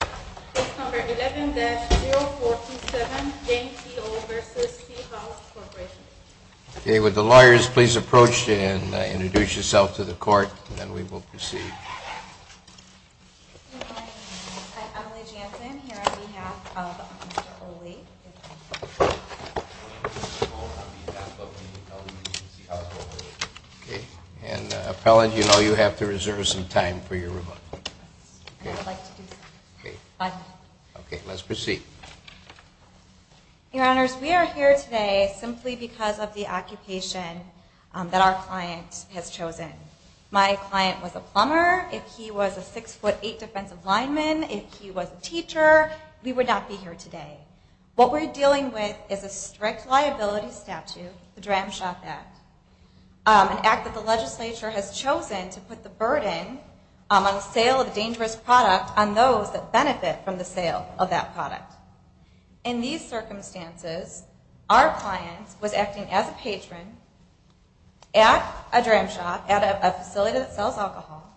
Case number 11-047, Jane C. Olle v. C House Corporation. Okay, would the lawyers please approach and introduce yourself to the court, and then we will proceed. Good morning. I'm Emily Jansen, here on behalf of Mr. Olle. Okay, and appellant, you know you have to reserve some time for your rebuttal. I would like to do so. Okay, let's proceed. Your Honors, we are here today simply because of the occupation that our client has chosen. My client was a plumber. If he was a 6'8 defensive lineman, if he was a teacher, we would not be here today. What we're dealing with is a strict liability statute, the Dram Shop Act. An act that the legislature has chosen to put the burden on the sale of a dangerous product on those that benefit from the sale of that product. In these circumstances, our client was acting as a patron at a Dram Shop, at a facility that sells alcohol.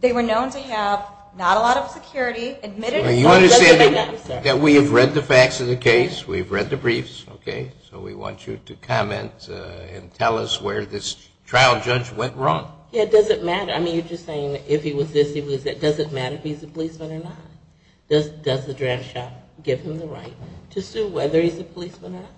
They were known to have not a lot of security. You understand that we have read the facts of the case, we've read the briefs, okay? So we want you to comment and tell us where this trial judge went wrong. Yeah, does it matter? I mean, you're just saying if he was this, he was that. Does it matter if he's a policeman or not? Does the Dram Shop give him the right to sue whether he's a policeman or not?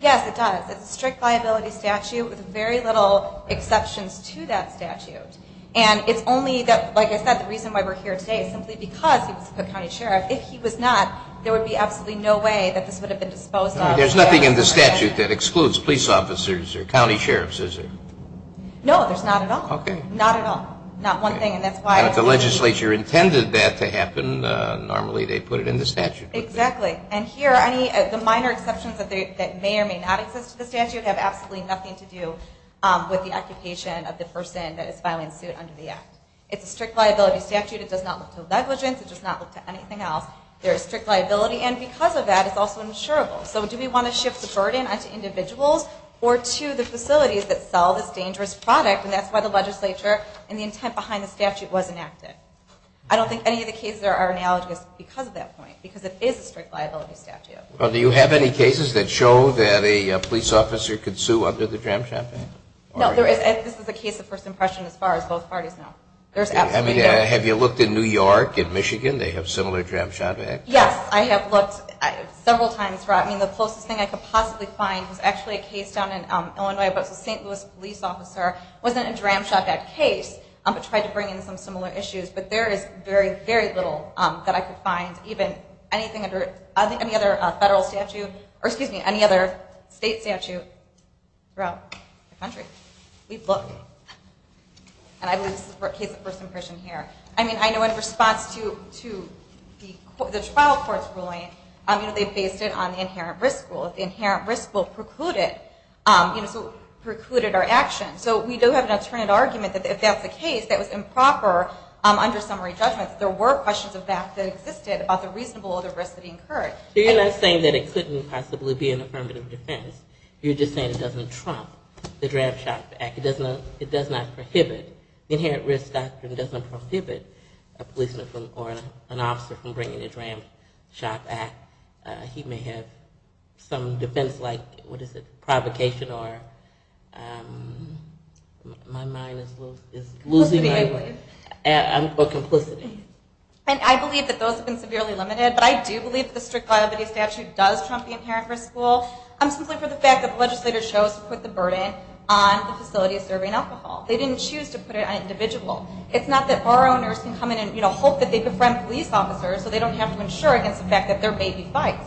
Yes, it does. It's a strict liability statute with very little exceptions to that statute. And it's only that, like I said, the reason why we're here today is simply because he was a Cook County Sheriff. If he was not, there would be absolutely no way that this would have been disposed of. There's nothing in the statute that excludes police officers or county sheriffs, is there? No, there's not at all. Okay. Not at all. Not one thing, and that's why. And if the legislature intended that to happen, normally they put it in the statute. Exactly. And here, the minor exceptions that may or may not exist to the statute have absolutely nothing to do with the occupation of the person that is filing suit under the act. It's a strict liability statute. It does not look to negligence. It does not look to anything else. There is strict liability, and because of that, it's also insurable. So do we want to shift the burden onto individuals or to the facilities that sell this dangerous product? And that's why the legislature and the intent behind the statute was enacted. I don't think any of the cases are analogous because of that point, because it is a strict liability statute. Well, do you have any cases that show that a police officer could sue under the Dram Champagne? No, there isn't. This is a case of first impression as far as both parties know. There's absolutely none. Have you looked in New York and Michigan? They have similar Dram Champagne. Yes, I have looked several times. I mean, the closest thing I could possibly find was actually a case down in Illinois where a St. Louis police officer was in a Dram Champagne case but tried to bring in some similar issues. But there is very, very little that I could find, even anything under any other federal statute or, excuse me, any other state statute throughout the country. We've looked. And I believe this is a case of first impression here. I mean, I know in response to the trial court's ruling, you know, they based it on the inherent risk rule. The inherent risk rule precluded our action. So we do have an alternate argument that if that's the case, that was improper under summary judgment. There were questions of that that existed about the reasonable or the risk that incurred. So you're not saying that it couldn't possibly be an affirmative defense. You're just saying it doesn't trump the Dram Champ Act. It does not prohibit, the inherent risk doctrine doesn't prohibit a policeman or an officer from bringing a Dram Champ Act. He may have some defense like, what is it, provocation or my mind is losing my way. Or complicity. And I believe that those have been severely limited. But I do believe that the strict liability statute does trump the inherent risk rule. Simply for the fact that the legislator chose to put the burden on the facility serving alcohol. They didn't choose to put it on an individual. It's not that bar owners can come in and hope that they befriend police officers so they don't have to insure against the fact that there may be fights.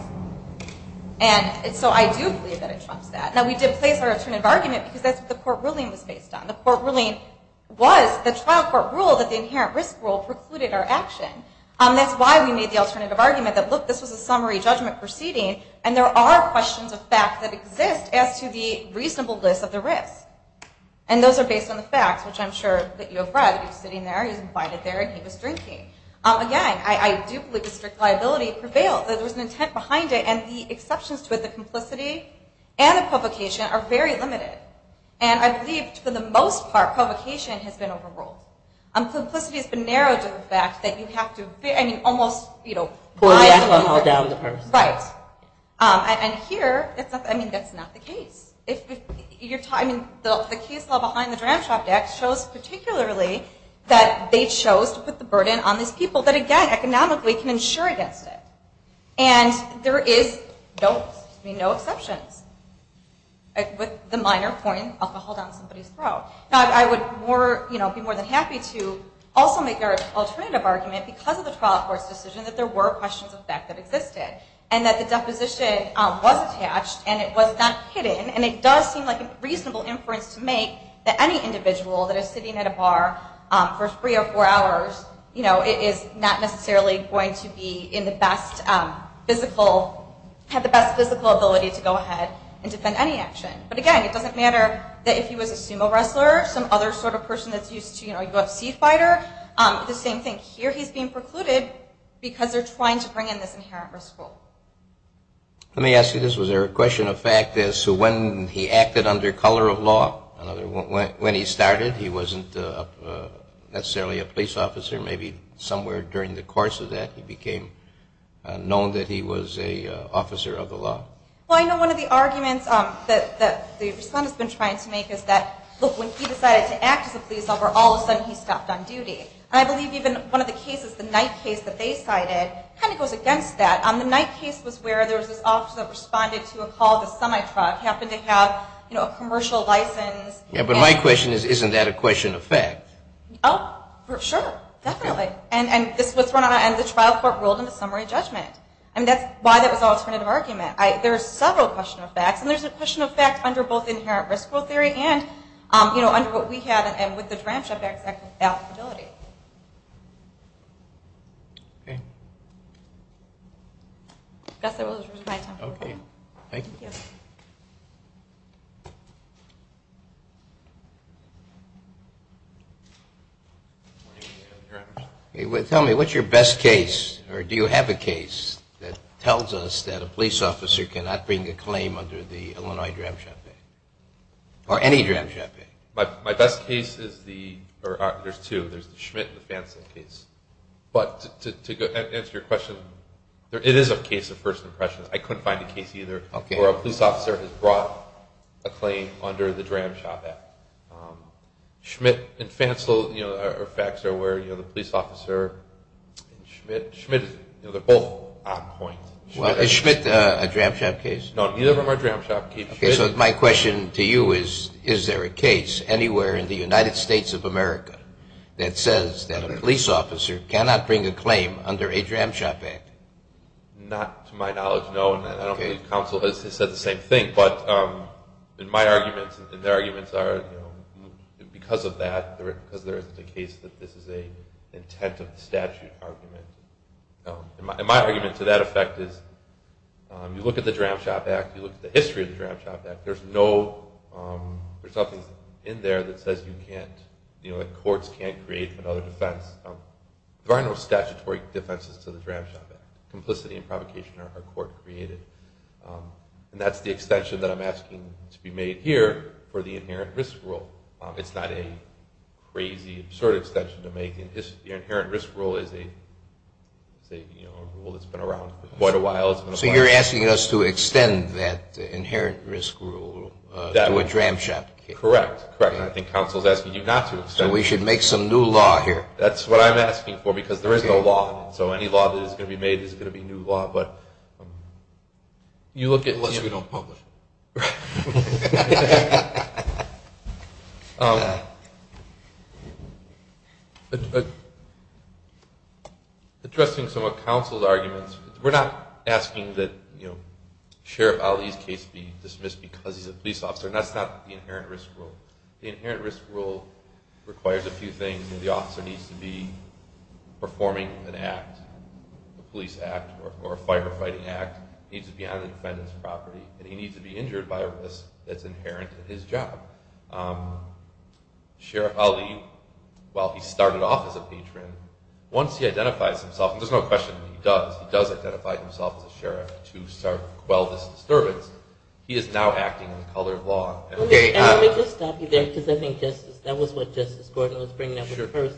And so I do believe that it trumps that. Now we did place our alternative argument because that's what the court ruling was based on. The court ruling was the trial court rule that the inherent risk rule precluded our action. That's why we made the alternative argument that, look, this was a summary judgment proceeding and there are questions of fact that exist as to the reasonableness of the risk. And those are based on the facts, which I'm sure that you have read. He was sitting there, he was invited there, and he was drinking. Again, I do believe that strict liability prevailed. There was an intent behind it and the exceptions to it, the complicity and the provocation, are very limited. And I believe for the most part, provocation has been overruled. Complicity has been narrowed to the fact that you have to, I mean, almost, you know, pour the alcohol down the person. Right. And here, I mean, that's not the case. The case law behind the Dram Shop Act shows particularly that they chose to put the burden on these people that, again, economically can insure against it. And there is no exceptions with the minor point, alcohol down somebody's throat. Now I would be more than happy to also make our alternative argument because of the trial court's decision that there were questions of theft that existed and that the deposition was attached and it was not hidden. And it does seem like a reasonable inference to make that any individual that is sitting at a bar for three or four hours, you know, it is not necessarily going to be in the best physical, have the best physical ability to go ahead and defend any action. But again, it doesn't matter that if he was a sumo wrestler, some other sort of person that's used to, you know, go up seed fighter. The same thing here. He's being precluded because they're trying to bring in this inherent risk. Let me ask you this. Was there a question of fact as to when he acted under color of law? When he started, he wasn't necessarily a police officer. Maybe somewhere during the course of that, he became known that he was an officer of the law. Well, I know one of the arguments that the respondent's been trying to make is that, look, when he decided to act as a police officer, all of a sudden he stopped on duty. And I believe even one of the cases, the Knight case that they cited, kind of goes against that. The Knight case was where there was this officer that responded to a call of a semi-truck, happened to have, you know, a commercial license. Yeah, but my question is, isn't that a question of fact? Oh, sure, definitely. And the trial court ruled in the summary judgment. And that's why that was an alternative argument. There are several question of facts. And there's a question of fact under both inherent risk rule theory and, you know, under what we have and with the DRAM shutbacks at the ability. Okay. I guess that was my time. Okay. Thank you. Yes. Tell me, what's your best case, or do you have a case, that tells us that a police officer cannot bring a claim under the Illinois DRAM shutback? Or any DRAM shutback? My best case is the – or there's two. There's the Schmidt and the Phanson case. But to answer your question, it is a case of first impressions. I couldn't find a case either where a police officer has brought a claim under the DRAM shutback. Schmidt and Phanson, you know, are facts. They're where, you know, the police officer and Schmidt. Schmidt, you know, they're both on point. Is Schmidt a DRAM shutback case? No, neither of them are DRAM shutback cases. Okay, so my question to you is, is there a case anywhere in the United States of America that says that a police officer cannot bring a claim under a DRAM shutback? Not to my knowledge, no. And I don't believe counsel has said the same thing. But in my arguments, and their arguments are, you know, because of that, because there isn't a case that this is an intent of the statute argument. And my argument to that effect is, you look at the DRAM Shutback, you look at the history of the DRAM Shutback, there's no – there's nothing in there that says you can't, you know, that courts can't create another defense. There are no statutory defenses to the DRAM Shutback. Complicity and provocation are court-created. And that's the extension that I'm asking to be made here for the inherent risk rule. It's not a crazy, absurd extension to make. The inherent risk rule is a, say, you know, a rule that's been around for quite a while. So you're asking us to extend that inherent risk rule to a DRAM Shutback case? Correct, correct. And I think counsel is asking you not to extend it. We should make some new law here. That's what I'm asking for because there is no law. So any law that is going to be made is going to be new law. But you look at – Unless we don't publish it. Right. Addressing some of counsel's arguments, we're not asking that, you know, Sheriff Ali's case be dismissed because he's a police officer. That's not the inherent risk rule. The inherent risk rule requires a few things. The officer needs to be performing an act, a police act or a firefighting act. He needs to be on the defendant's property. And he needs to be injured by a risk that's inherent in his job. Sheriff Ali, while he started off as a patron, once he identifies himself, and there's no question he does, he does identify himself as a sheriff to quell this disturbance, he is now acting in the color of law. Let me just stop you there because I think that was what Justice Gordon was bringing up with the first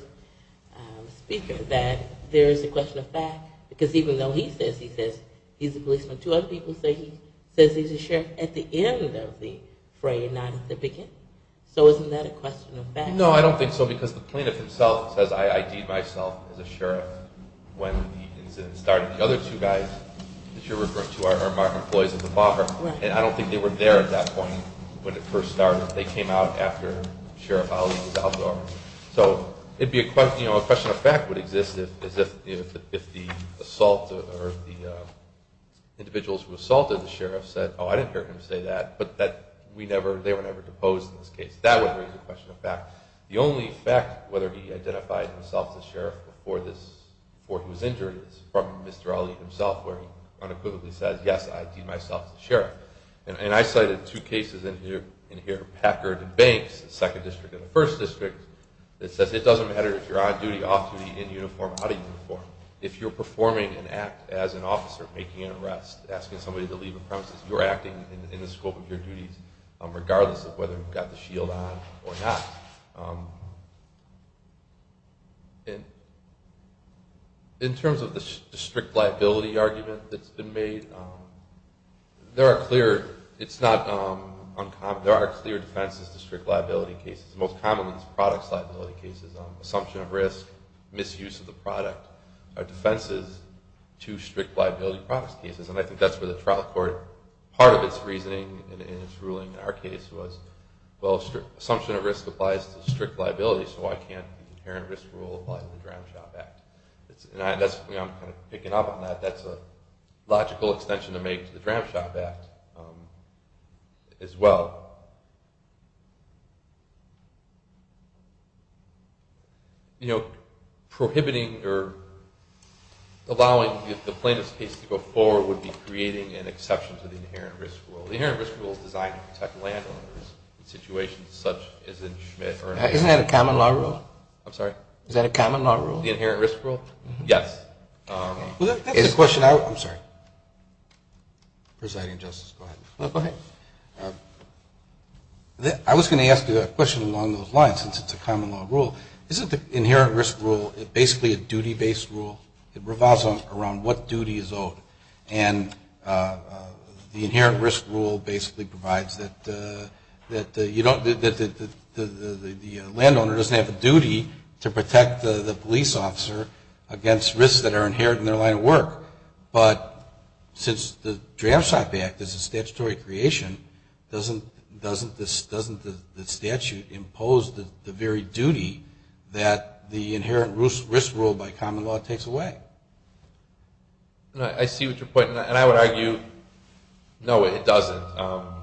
speaker, that there is a question of fact because even though he says he's a policeman, two other people say he says he's a sheriff at the end of the fray and not at the beginning. So isn't that a question of fact? No, I don't think so because the plaintiff himself says, I ID'd myself as a sheriff when the incident started. The other two guys that you're referring to are our employees at the bar. And I don't think they were there at that point when it first started. They came out after Sheriff Ali was out of the office. So a question of fact would exist if the individuals who assaulted the sheriff said, oh, I didn't hear him say that, but they were never deposed in this case. That would raise a question of fact. The only fact whether he identified himself as a sheriff before he was injured is from Mr. Ali himself where he unequivocally says, yes, I ID'd myself as a sheriff. And I cited two cases in here, Packard and Banks, the second district and the first district, that says it doesn't matter if you're on duty, off duty, in uniform, out of uniform. If you're performing an act as an officer, making an arrest, asking somebody to leave a premises, you're acting in the scope of your duties regardless of whether you've got the shield on or not. In terms of the strict liability argument that's been made, there are clear defenses to strict liability cases. Most commonly it's products liability cases, assumption of risk, misuse of the product, are defenses to strict liability products cases. And I think that's where the trial court, part of its reasoning in its ruling in our case was, well, assumption of risk applies to strict liability, so why can't the inherent risk rule apply to the Dram Shop Act? And I'm kind of picking up on that. That's a logical extension to make to the Dram Shop Act as well. You know, prohibiting or allowing the plaintiff's case to go forward would be creating an exception to the inherent risk rule. The inherent risk rule is designed to protect landowners in situations such as in Schmidt. Isn't that a common law rule? I'm sorry? Is that a common law rule? The inherent risk rule? Yes. Well, that's the question I would – I'm sorry. Presiding Justice, go ahead. Go ahead. I was going to ask you a question along those lines since it's a common law rule. Isn't the inherent risk rule basically a duty-based rule? It revolves around what duty is owed. And the inherent risk rule basically provides that the landowner doesn't have a duty to protect the police officer against risks that are inherent in their line of work. But since the Dram Shop Act is a statutory creation, doesn't the statute impose the very duty that the inherent risk rule by common law takes away? I see what you're pointing at. And I would argue, no, it doesn't.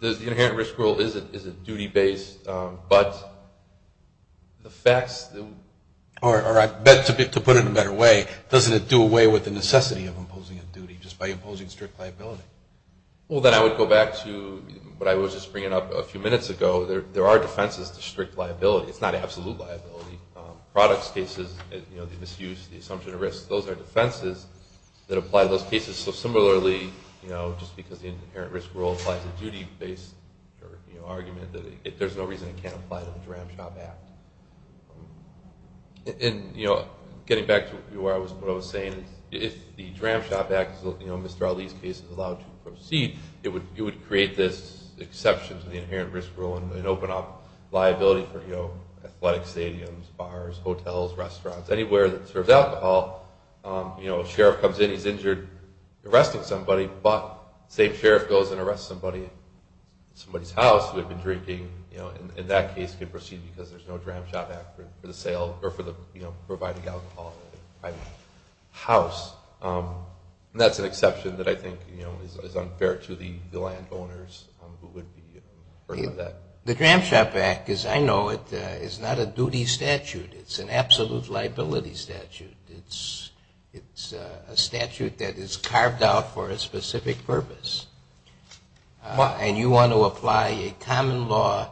The inherent risk rule is a duty-based, but the facts – or to put it in a better way, doesn't it do away with the necessity of imposing a duty just by imposing strict liability? Well, then I would go back to what I was just bringing up a few minutes ago. There are defenses to strict liability. It's not absolute liability. Products cases, the misuse, the assumption of risk, those are defenses that apply to those cases. So similarly, just because the inherent risk rule applies a duty-based argument, there's no reason it can't apply to the Dram Shop Act. And getting back to what I was saying, if the Dram Shop Act, Mr. Ali's case, is allowed to proceed, it would create this exception to the inherent risk rule and open up liability for athletic stadiums, bars, hotels, restaurants, anywhere that serves alcohol. A sheriff comes in, he's injured, arresting somebody, but the same sheriff goes and arrests somebody in somebody's house who had been drinking, and that case could proceed because there's no Dram Shop Act for the providing alcohol in a private house. That's an exception that I think is unfair to the landowners who would be burdened with that. The Dram Shop Act, as I know it, is not a duty statute. It's an absolute liability statute. It's a statute that is carved out for a specific purpose. And you want to apply a common law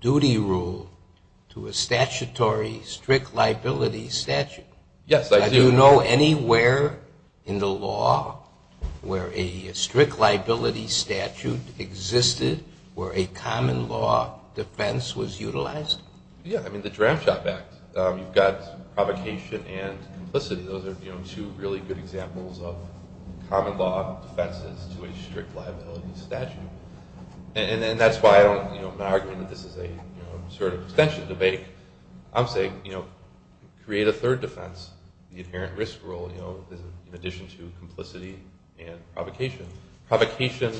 duty rule to a statutory strict liability statute. Yes, I do. Do you know anywhere in the law where a strict liability statute existed where a common law defense was utilized? Yeah, I mean, the Dram Shop Act. You've got provocation and complicity. Those are two really good examples of common law defenses to a strict liability statute. And that's why I'm not arguing that this is a sort of extension debate. I'm saying create a third defense, the inherent risk rule, in addition to complicity and provocation. Provocation,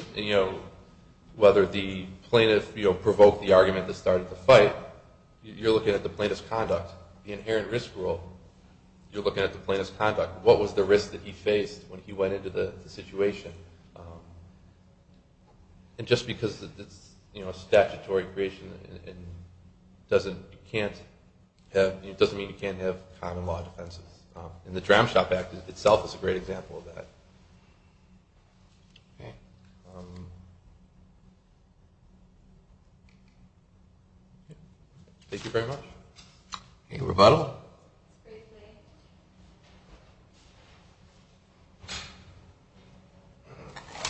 whether the plaintiff provoked the argument that started the fight, you're looking at the plaintiff's conduct. The inherent risk rule, you're looking at the plaintiff's conduct. What was the risk that he faced when he went into the situation? And just because it's a statutory creation, it doesn't mean you can't have common law defenses. And the Dram Shop Act itself is a great example of that. Thank you very much. Any rebuttal?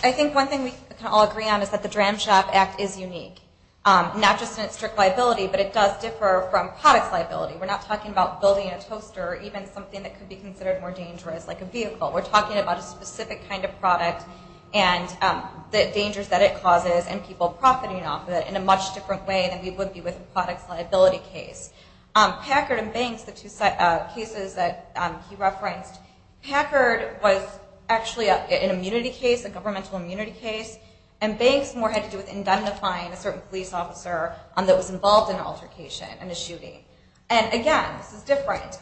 I think one thing we can all agree on is that the Dram Shop Act is unique, not just in its strict liability, but it does differ from product liability. We're not talking about building a toaster or even something that could be considered more dangerous, like a vehicle. We're talking about a specific kind of product and the dangers that it causes and people profiting off of it in a much different way than we would be with a products liability case. Packard and Banks, the two cases that he referenced, Packard was actually an immunity case, a governmental immunity case, and Banks more had to do with indemnifying a certain police officer that was involved in an altercation, in a shooting. And again, this is different.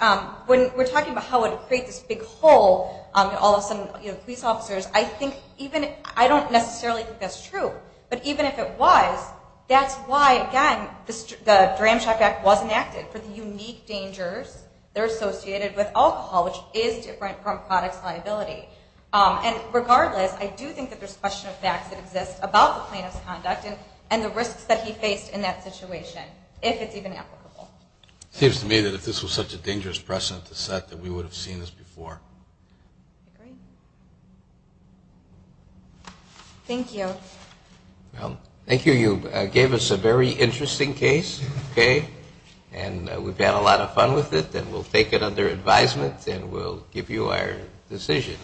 When we're talking about how it would create this big hole, all of a sudden police officers, I don't necessarily think that's true. But even if it was, that's why, again, the Dram Shop Act was enacted for the unique dangers that are associated with alcohol, which is different from products liability. And regardless, I do think that there's a question of facts that exist about the plaintiff's conduct and the risks that he faced in that situation, if it's even applicable. It seems to me that if this was such a dangerous precedent to set that we would have seen this before. I agree. Thank you. Well, thank you. You gave us a very interesting case, okay? And we've had a lot of fun with it, and we'll take it under advisement, and we'll give you our decision.